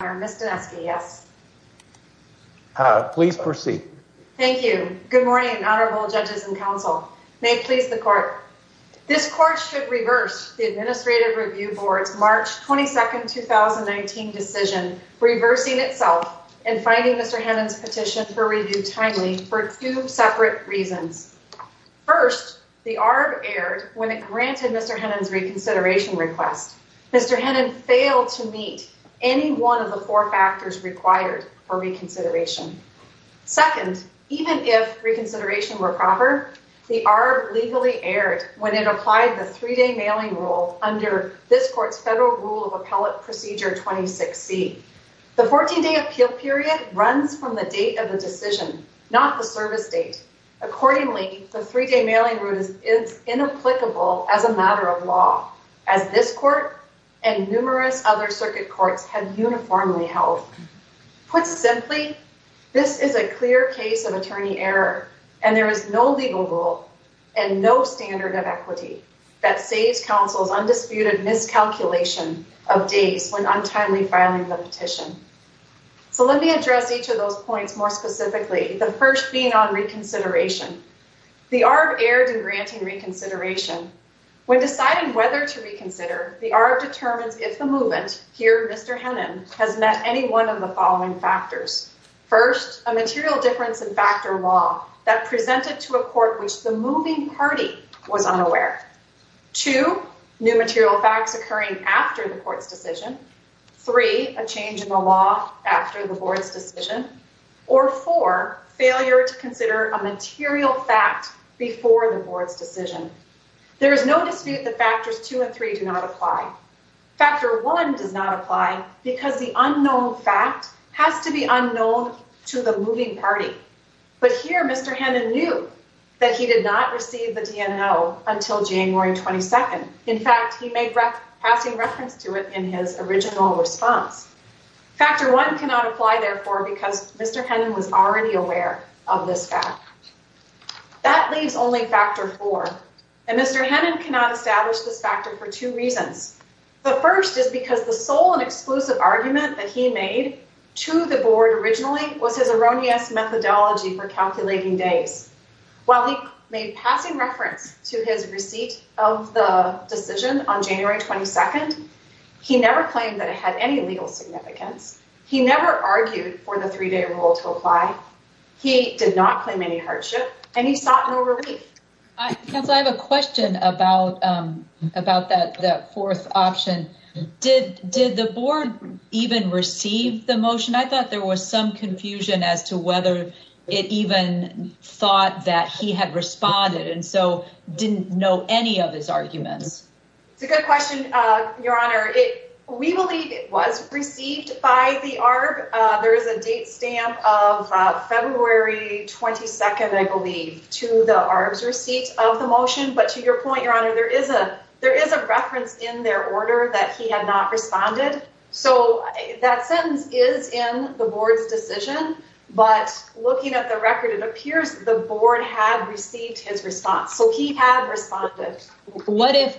Ms. Doneski, yes. Please proceed. Thank you. Good morning, Honorable Judges and Counsel. May it please the Court. This Court should reverse the Administrative Review Board's March 22nd, 2019 decision, reversing itself and finding Mr. Hennon's petition for review timely for two separate reasons. First, the ARB erred when it granted Mr. Hennon's reconsideration request. Mr. Hennon failed to meet any one of the four factors required for reconsideration. Second, even if reconsideration were proper, the ARB legally erred when it applied the three-day mailing rule under this Court's Federal Rule of Appellate Procedure 26C. The 14-day appeal period runs from the date of the decision, not the service date. Accordingly, the three-day mailing rule is inapplicable as a matter of law, as this Court and numerous other circuit courts have uniformly held. Put simply, this is a clear case of attorney error and there is no legal rule and no standard of equity that saves counsel's undisputed miscalculation of days when untimely filing the petition. So let me address each of those points more specifically, the first being on reconsideration. The When deciding whether to reconsider, the ARB determines if the movement, here Mr. Hennon, has met any one of the following factors. First, a material difference in fact or law that presented to a court which the moving party was unaware. Two, new material facts occurring after the Court's decision. Three, a change in the law after the Board's decision. Or four, failure to consider a material fact before the Board's decision. There is no dispute that factors two and three do not apply. Factor one does not apply because the unknown fact has to be unknown to the moving party. But here Mr. Hennon knew that he did not receive the DNO until January 22nd. In fact, he made passing reference to it in his original response. Factor one cannot apply, therefore, because Mr. Hennon was already aware of this fact. That leaves only factor four, and Mr. Hennon cannot establish this factor for two reasons. The first is because the sole and exclusive argument that he made to the Board originally was his erroneous methodology for calculating days. While he made passing reference to his receipt of the decision on January 22nd, he never claimed that it had any legal significance. He never argued for the three-day rule to apply. He did not claim any hardship, and he sought no relief. I have a question about that fourth option. Did the Board even receive the motion? I thought there was some confusion as to whether it even thought that he had responded and so didn't know any of his arguments. It's a good question, Your Honor. We believe it was received by the ARB. There is a date stamp of February 22nd, I believe, to the ARB's receipt of the motion, but to your point, Your Honor, there is a reference in their order that he had not responded. So that sentence is in the Board's decision, but looking at the record, it appears the Board had received his response. So he had responded. What if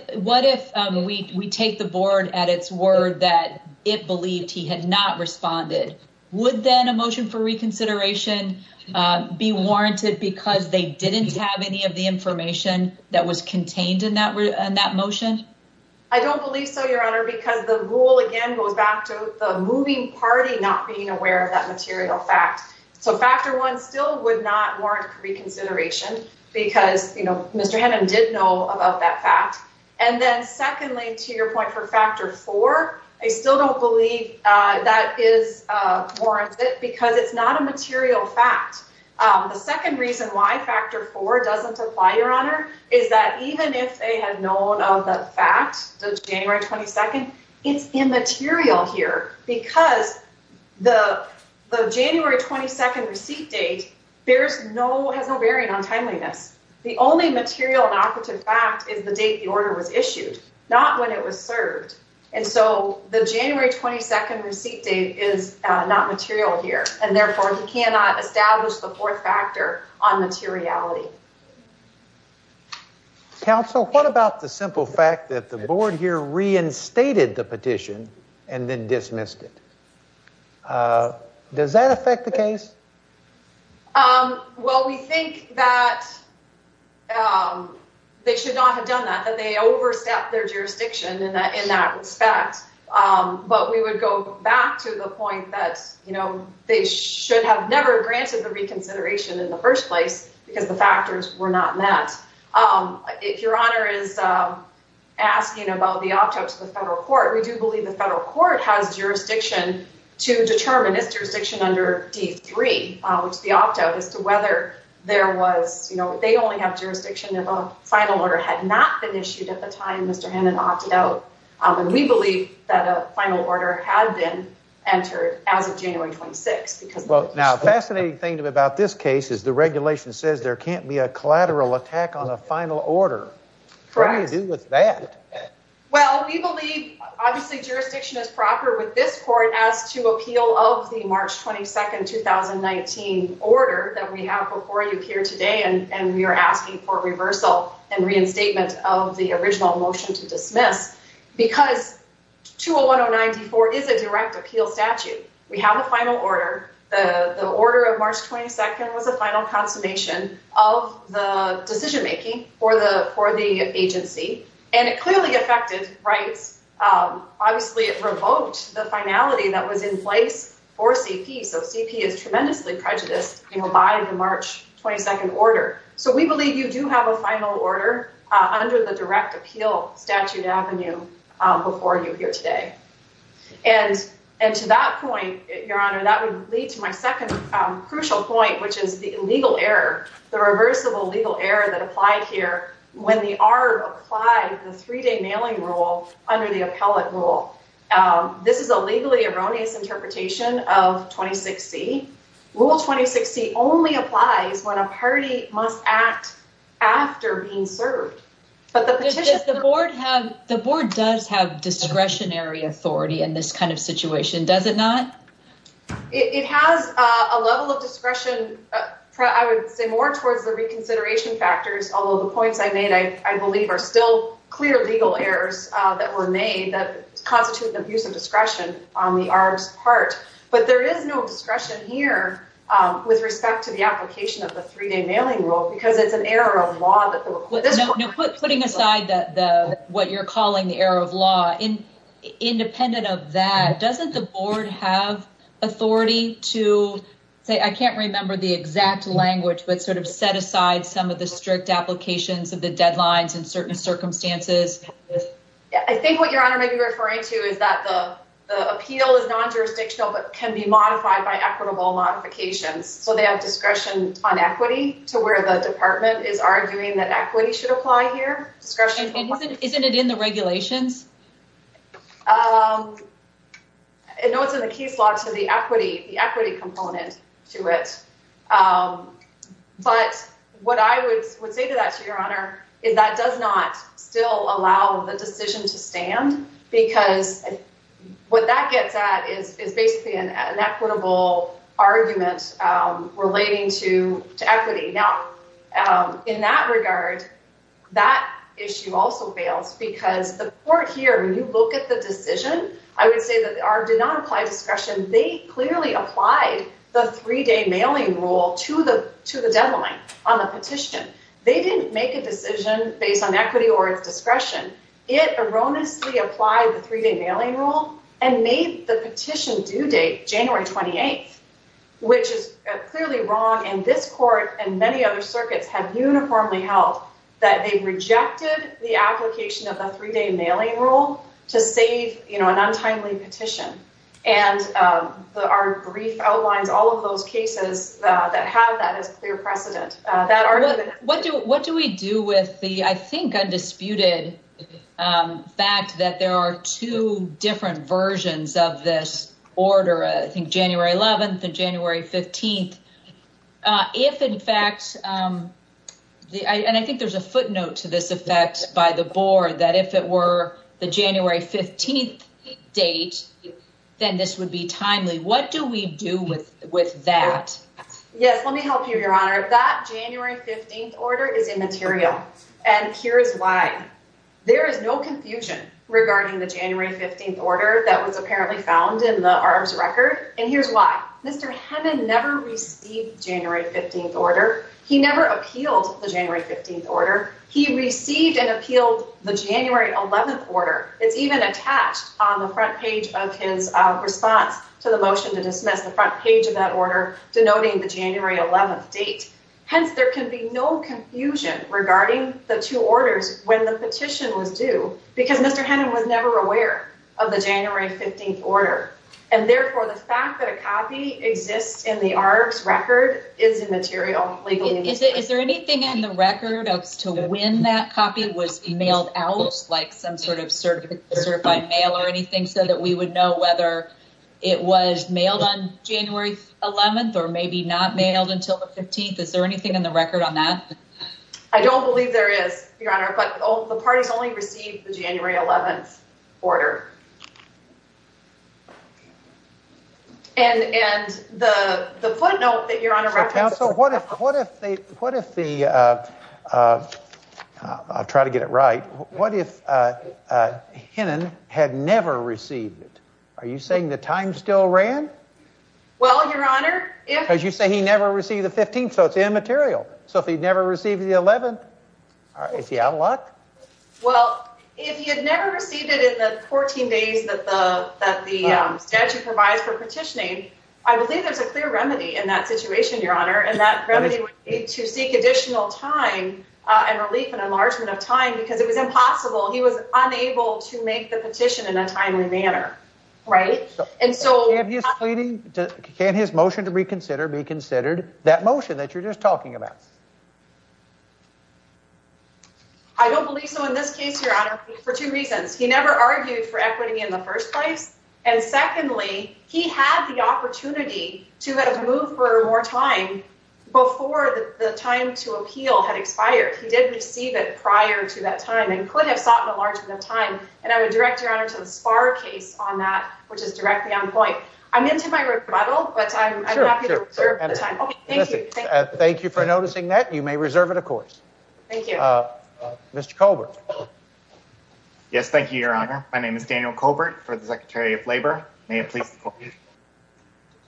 we take the Board at its word that it believed he had not responded? Would then a motion for reconsideration be warranted because they didn't have any of the information that was contained in that motion? I don't believe so, Your Honor, because the rule again goes back to the moving party not being aware of that material fact. So Factor 1 still would not warrant reconsideration because, you know, Mr. your point for Factor 4, I still don't believe that is warranted because it's not a material fact. The second reason why Factor 4 doesn't apply, Your Honor, is that even if they had known of the fact of January 22nd, it's immaterial here because the January 22nd receipt date has no bearing on timeliness. The only material and operative fact is the date the order was issued, not when it was served, and so the January 22nd receipt date is not material here, and therefore he cannot establish the fourth factor on materiality. Counsel, what about the simple fact that the Board here reinstated the petition and then dismissed it? Does that affect the case? Well, we think that they should have never granted the reconsideration in the first place because the factors were not met. If Your Honor is asking about the opt-out to the federal court, we do believe the federal court has jurisdiction to determine its jurisdiction under D3, which is the opt-out, as to whether there was, you know, they only have jurisdiction if a final order had not been issued at the time Mr. Hannon opted out, and we believe that a final order had been entered as of January 26th. Now, a fascinating thing about this case is the regulation says there can't be a collateral attack on a final order. What do you do with that? Well, we believe, obviously, jurisdiction is proper with this court as to appeal of the March 22nd, 2019 order that we have before you here today, and we are asking for reversal and reinstatement of the original motion to dismiss because 201-094 is a direct appeal statute. We have a final order. The order of March 22nd was a final consummation of the decision-making for the agency, and it clearly affected rights. Obviously, it revoked the finality that was in place for CP, so CP is just, you know, by the March 22nd order, so we believe you do have a final order under the direct appeal statute avenue before you here today, and to that point, Your Honor, that would lead to my second crucial point, which is the illegal error, the reversible legal error that applied here when the ARB applied the three-day mailing rule under the appellate rule. This is a legally erroneous interpretation of 2060. Rule 2060 only applies when a party must act after being served, but the petition... Does the board have, the board does have discretionary authority in this kind of situation, does it not? It has a level of discretion, I would say, more towards the reconsideration factors, although the points I made, I believe, are still clear legal errors that were made that constitute an abuse of discretion on the ARB's part, but there is no discretion here with respect to the application of the three-day mailing rule because it's an error of law that... Putting aside what you're calling the error of law, independent of that, doesn't the board have authority to say, I can't remember the exact language, but sort of set aside some of the strict applications of the deadlines in certain circumstances? I think what Your Honor may be referring to is that the appeal is non-jurisdictional but can be modified by equitable modifications, so they have discretion on equity to where the department is arguing that equity should apply here, discretion... And isn't it in the regulations? I know it's in the case law to the equity, the equity component to it, but what I would say to that, Your Honor, is that does not still allow the decision to stand because what that gets at is basically an equitable argument relating to equity. Now in that regard, that issue also fails because the court here, when you look at the decision, I would say that the ARB did not apply discretion. They clearly applied the three-day mailing rule to the deadline on the petition. They didn't make a decision based on equity or its validity. It erroneously applied the three-day mailing rule and made the petition due date January 28th, which is clearly wrong, and this court and many other circuits have uniformly held that they rejected the application of the three-day mailing rule to save, you know, an untimely petition. And the ARB brief outlines all of those cases that have that as clear precedent. What do we do with the, I think, undisputed fact that there are two different versions of this order, I think January 11th and January 15th, if in fact, and I think there's a footnote to this effect by the board, that if it were the January 15th date, then this would be timely. What do we do with with that? Yes, let me help you, Your Honor. That January 15th order is immaterial, and here's why. There is no confusion regarding the January 15th order that was apparently found in the ARB's record, and here's why. Mr. Hemon never received January 15th order. He never appealed the January 15th order. He received and appealed the January 11th order. It's even attached on the front page of his response to the motion to date. Hence, there can be no confusion regarding the two orders when the petition was due, because Mr. Hemon was never aware of the January 15th order. And therefore, the fact that a copy exists in the ARB's record is immaterial. Is there anything in the record as to when that copy was mailed out, like some sort of certified mail or anything, so that we would know whether it was mailed until the 15th? Is there anything in the record on that? I don't believe there is, Your Honor, but all the parties only received the January 11th order. And and the footnote that Your Honor referenced... Counsel, what if, what if they, what if the, I'll try to get it right, what if Hemon had never received it? Are you saying he never received the 15th, so it's immaterial? So if he'd never received the 11th, is he out of luck? Well, if he had never received it in the 14 days that the statute provides for petitioning, I believe there's a clear remedy in that situation, Your Honor, and that remedy would be to seek additional time and relief and enlargement of time, because it was impossible. He was unable to make the petition in a timely manner, right? And so... Can't his motion to reconsider be considered that motion that you're just talking about? I don't believe so in this case, Your Honor, for two reasons. He never argued for equity in the first place, and secondly, he had the opportunity to have moved for more time before the time to appeal had expired. He did receive it prior to that time and could have sought an enlargement of time, and I would direct Your Honor to the Sparr case on that, which is directly on point. I'm into my model, but I'm happy to reserve the time. Okay, thank you. Thank you for noticing that. You may reserve it, of course. Thank you. Mr. Colbert. Yes, thank you, Your Honor. My name is Daniel Colbert for the Secretary of Labor. May it please the Court.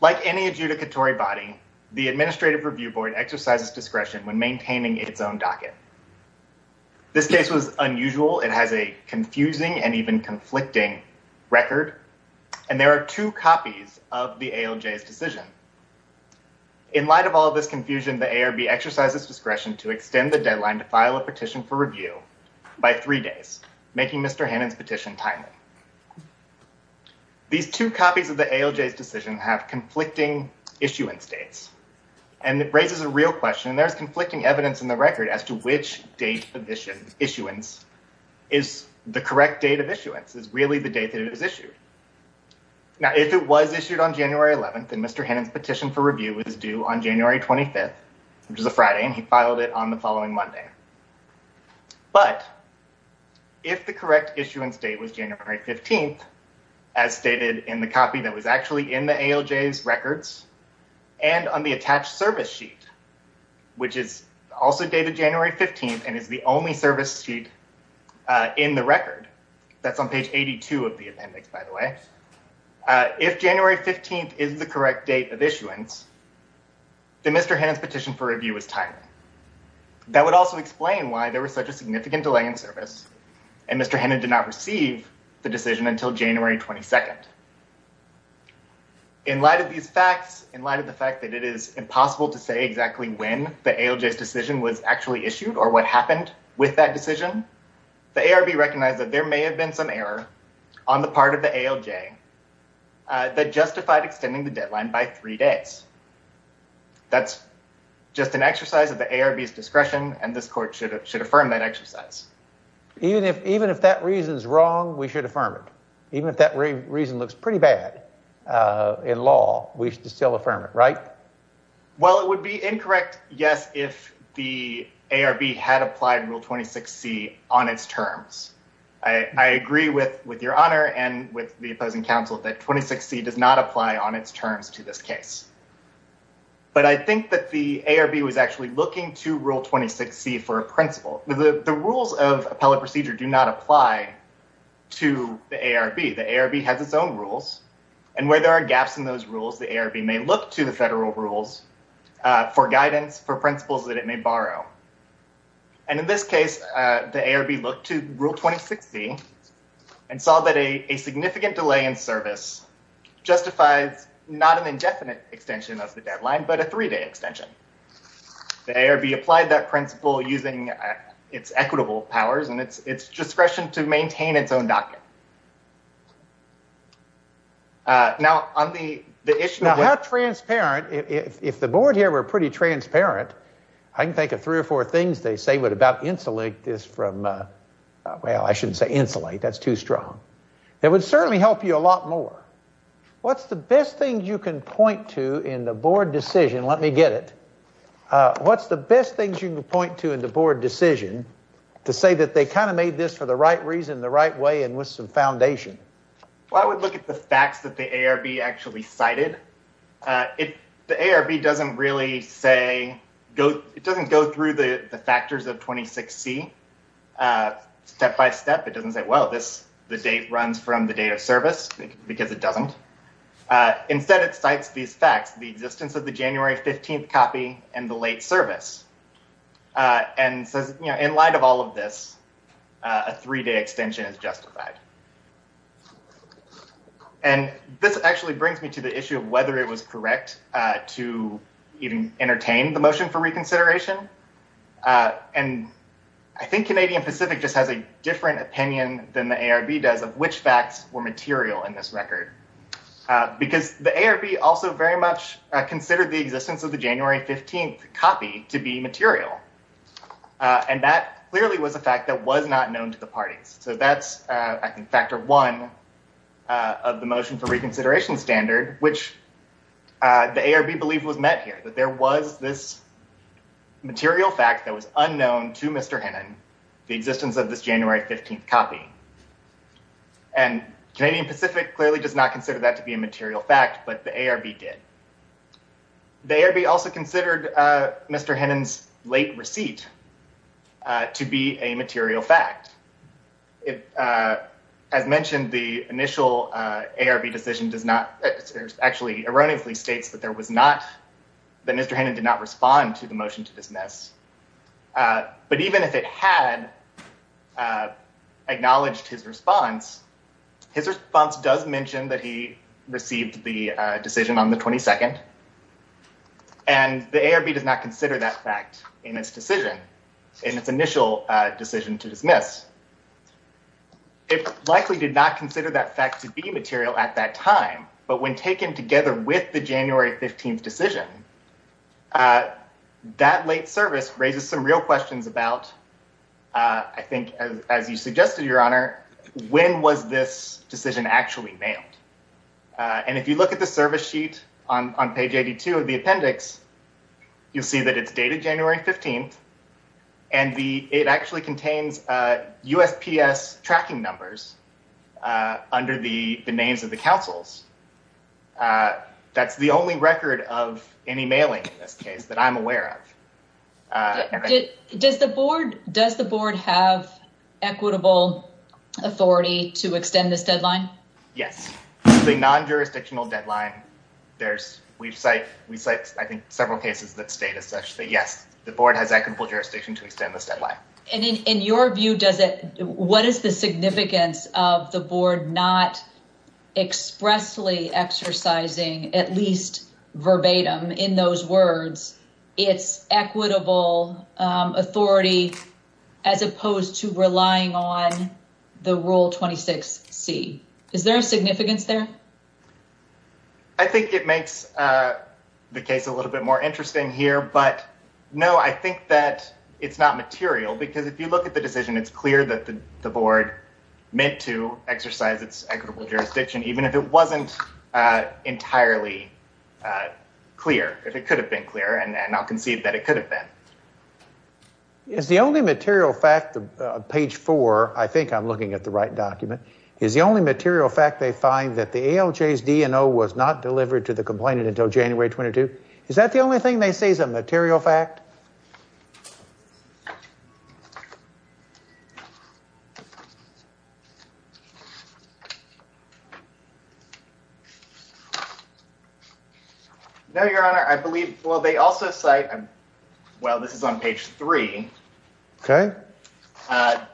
Like any adjudicatory body, the Administrative Review Board exercises discretion when maintaining its own docket. This case was unusual. It has a confusing and even conflicting record, and there are two copies of the ALJ's decision. In light of all this confusion, the ARB exercises discretion to extend the deadline to file a petition for review by three days, making Mr. Hannon's petition timely. These two copies of the ALJ's decision have conflicting issuance dates, and it raises a real question, and there's conflicting evidence in the record as to which date of issuance is the correct date of issuance, is really the date that it was issued. Now, if it was issued on January 11th, and Mr. Hannon's petition for review was due on January 25th, which is a Friday, and he filed it on the following Monday, but if the correct issuance date was January 15th, as stated in the copy that was actually in the ALJ's records, and on the attached service sheet, which is also dated January 15th and is the only service sheet in the record, that's on page 82 of the appendix, by the way, if January 15th is the correct date of issuance, then Mr. Hannon's petition for review was timely. That would also explain why there was such a significant delay in service, and Mr. Hannon did not receive the decision until January 22nd. In light of these facts, in light of the issue, or what happened with that decision, the ARB recognized that there may have been some error on the part of the ALJ that justified extending the deadline by three days. That's just an exercise of the ARB's discretion, and this court should affirm that exercise. Even if that reason is wrong, we should affirm it. Even if that reason looks pretty bad in law, we should still affirm it, right? Well, it would be incorrect, yes, if the ARB had applied Rule 26C on its terms. I agree with your Honor and with the opposing counsel that 26C does not apply on its terms to this case, but I think that the ARB was actually looking to Rule 26C for a principle. The rules of appellate procedure do not apply to the ARB. The ARB has its own rules, and where there are gaps in those rules, the ARB may look to the federal rules for guidance, for principles that it may borrow. And in this case, the ARB looked to Rule 26C and saw that a significant delay in service justifies not an indefinite extension of the deadline, but a three-day extension. The ARB applied that principle using its equitable powers and its discretion to Now, how transparent, if the board here were pretty transparent, I can think of three or four things they say would about insulate this from, well, I shouldn't say insulate, that's too strong. It would certainly help you a lot more. What's the best thing you can point to in the board decision, let me get it, what's the best things you can point to in the board decision to say that they kind of made this for the right reason, the right way, and with some foundation? Well, I would look at the facts that the ARB actually cited. The ARB doesn't really say, it doesn't go through the the factors of 26C step-by-step. It doesn't say, well, the date runs from the date of service, because it doesn't. Instead, it cites these facts, the existence of the January 15th copy and the late service, and says, you know, in light of all of this, a three-day extension is justified. And this actually brings me to the issue of whether it was correct to even entertain the motion for reconsideration, and I think Canadian Pacific just has a different opinion than the ARB does of which facts were material in this record, because the ARB also very much considered the existence of the January 15th copy to be material, and that clearly was a fact that was not known to the parties. So that's, I think, factor one of the motion for reconsideration standard, which the ARB believed was met here, that there was this material fact that was unknown to Mr. Hennon, the existence of this January 15th copy. And Canadian Pacific clearly does not consider that to be a material fact, but the ARB did. The ARB also considered Mr. Hennon's late receipt to be a material fact. As mentioned, the initial ARB decision does not, actually erroneously states that there was not, that Mr. Hennon did not respond to the motion to dismiss, but even if it had acknowledged his response, his response does mention that he received the decision on the 22nd, and the ARB does not consider that fact in its decision, in its initial decision to dismiss. It likely did not consider that fact to be material at that time, but when taken together with the January 15th decision, that late service raises some real questions about, I think, as you suggested, Your Honor, when was this decision actually mailed? And if you look at the service sheet on page 82 of the record, you see that it's dated January 15th, and it actually contains USPS tracking numbers under the names of the councils. That's the only record of any mailing in this case that I'm aware of. Does the Board have equitable authority to extend this deadline? Yes. The non-jurisdictional deadline, we've cited, I think, several cases that state as such that yes, the Board has equitable jurisdiction to extend this deadline. And in your view, what is the significance of the Board not expressly exercising, at least verbatim in those words, its equitable authority as opposed to relying on the Rule 26C? Is there a reason for that? I think it makes the case a little bit more interesting here, but no, I think that it's not material, because if you look at the decision, it's clear that the Board meant to exercise its equitable jurisdiction, even if it wasn't entirely clear, if it could have been clear and not conceived that it could have been. Is the only material fact, page 4, I think I'm looking at the right document, is the only material fact they find that the ALJ's DNO was not delivered to the complainant until January 22? Is that the only thing they say is a material fact? No, Your Honor. I believe, well, they also cite, well, this is on page 3. Okay.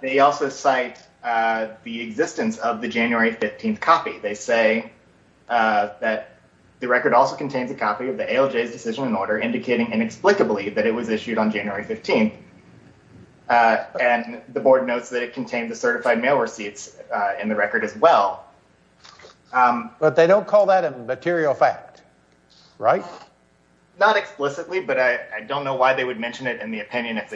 They also cite the existence of the January 15th copy. They say that the record also contains a copy of the ALJ's decision and order indicating inexplicably that it was issued on January 15th, and the Board notes that it contained the certified mail receipts in the record as well. But they don't call that a material fact, right? Not explicitly, but I don't know why they would mention it in the record.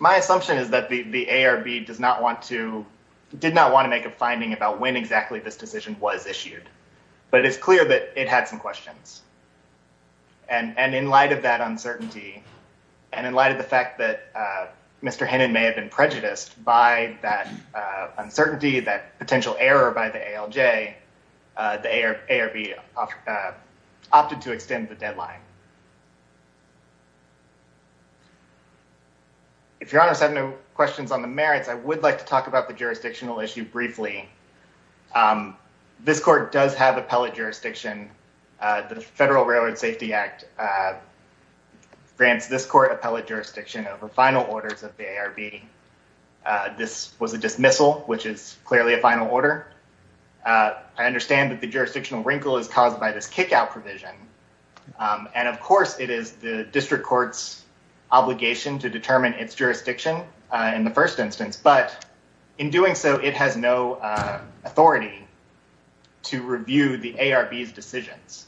My assumption is that the ARB did not want to make a finding about when exactly this decision was issued, but it's clear that it had some questions. And in light of that uncertainty, and in light of the fact that Mr. Hannon may have been prejudiced by that uncertainty, that potential error by the ALJ, the ARB opted to extend the deadline. If Your Honor have no questions on the merits, I would like to talk about the jurisdictional issue briefly. This court does have appellate jurisdiction. The Federal Railroad Safety Act grants this court appellate jurisdiction over final orders of the ARB. This was a dismissal, which is clearly a final order. I understand that the jurisdictional wrinkle is caused by this kick-out provision, and of course it is the district court's obligation to determine its jurisdiction in the first instance. But in doing so, it has no authority to review the ARB's decisions.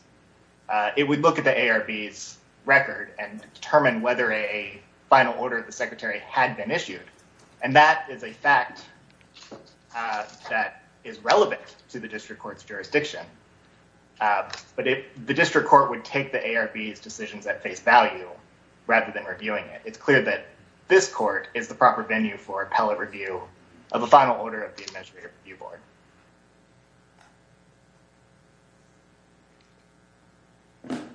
It would look at the ARB's record and determine whether a final order of the ARB was issued. And that is a fact that is relevant to the district court's jurisdiction. But if the district court would take the ARB's decisions at face value, rather than reviewing it, it's clear that this court is the proper venue for appellate review of a final order of the Administrative Review Board. Thank you.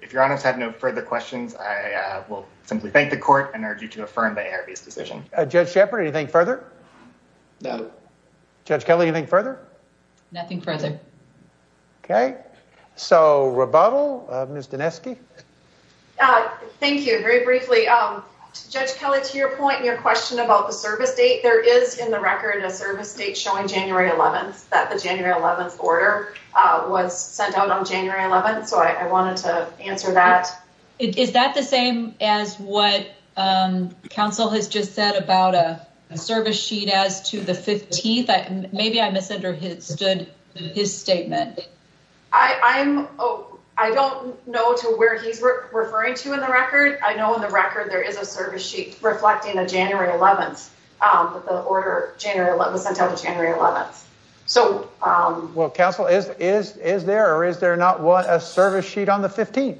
If your Honor's have no further questions, I will simply thank the court and urge you to affirm the ARB's decision. Judge Shepard, anything further? No. Judge Kelly, anything further? Nothing further. Okay, so rebuttal, Ms. Dinesky? Thank you. Very briefly, Judge Kelly, to your point and your question about the service date, there is in the record a service date showing January 11th, that the January 11th order was sent out on January 11th, so I wanted to answer that. Is that the same as what counsel has just said about a service sheet as to the 15th? Maybe I misunderstood his statement. I don't know to what order he's referring to in the record. I know in the record there is a service sheet reflecting a January 11th, that the order January 11th was sent out on January 11th. Well, counsel, is there or is there not a service sheet on the 15th?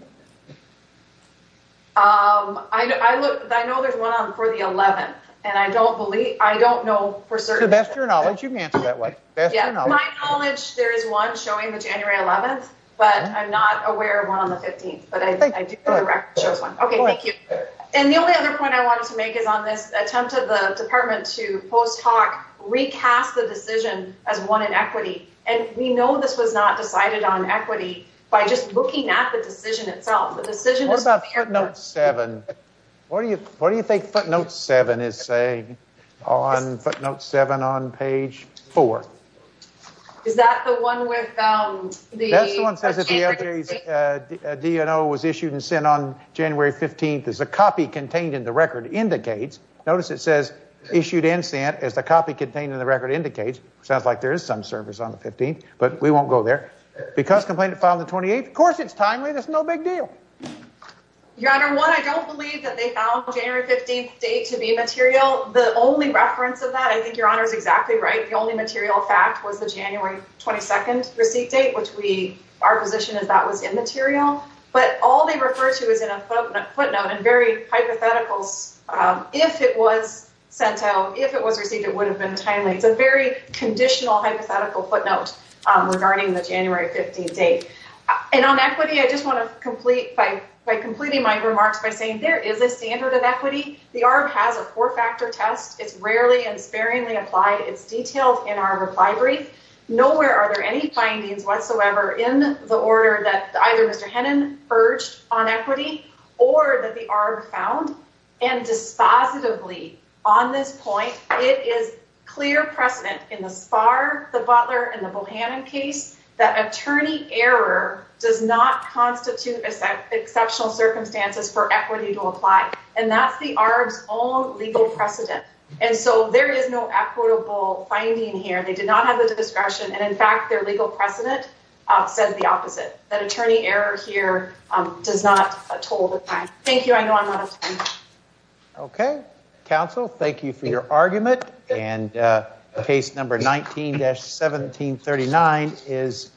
I know there's one for the 11th, and I don't believe, I don't know for certain. To the best of your knowledge, you can answer that way. To my knowledge, there is one showing the January 11th, but I'm not aware of one on the 15th, but I do know the record shows one. Okay, thank you. And the only other point I wanted to make is on this attempt of the department to post hoc recast the decision as one in equity, and we know this was not decided on equity by just looking at the decision itself. What about footnote 7? What do you think footnote 7 is saying on footnote 7 on page 4? Is that the one with the... That's the one that says the DNO was issued and sent on January 15th as a copy contained in the record indicates. Notice it says issued and sent as the copy contained in the record indicates. Sounds like there is some service on the 15th, but we won't go there. Because complaint filed on the 28th, of course it's timely, there's no big deal. Your Honor, one, I don't believe that they found January 15th date to be material. The only reference of that, I think Your Honor is exactly right. The only material fact was the January 22nd receipt date, which we, our position is that was immaterial. But all they refer to is in a footnote and very hypotheticals. If it was sent out, if it was received, it would have been timely. It's a very conditional hypothetical footnote regarding the January 15th date. And on equity, I just want to complete by completing my remarks by saying there is a standard of equity. The ARB has a four-factor test. It's rarely and sparingly applied. It's detailed in our reply brief. Nowhere are there any findings whatsoever in the order that either Mr. Hennon urged on equity or that the ARB found. And dispositively on this point, it is clear precedent in the Spahr, the Butler, and the Bohannon case that attorney error does not constitute exceptional circumstances for equity to apply. And that's the ARB's own legal precedent. And so there is no equitable finding here. They did not have the discretion. And in fact, their legal precedent says the opposite, that attorney error here does not total the crime. Thank you. I know I'm out of time. Okay. Counsel, thank you for your argument. And case number 19-1739 is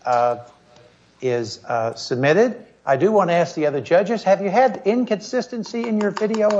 submitted. I do want to ask the other judges, have you had inconsistency in your video?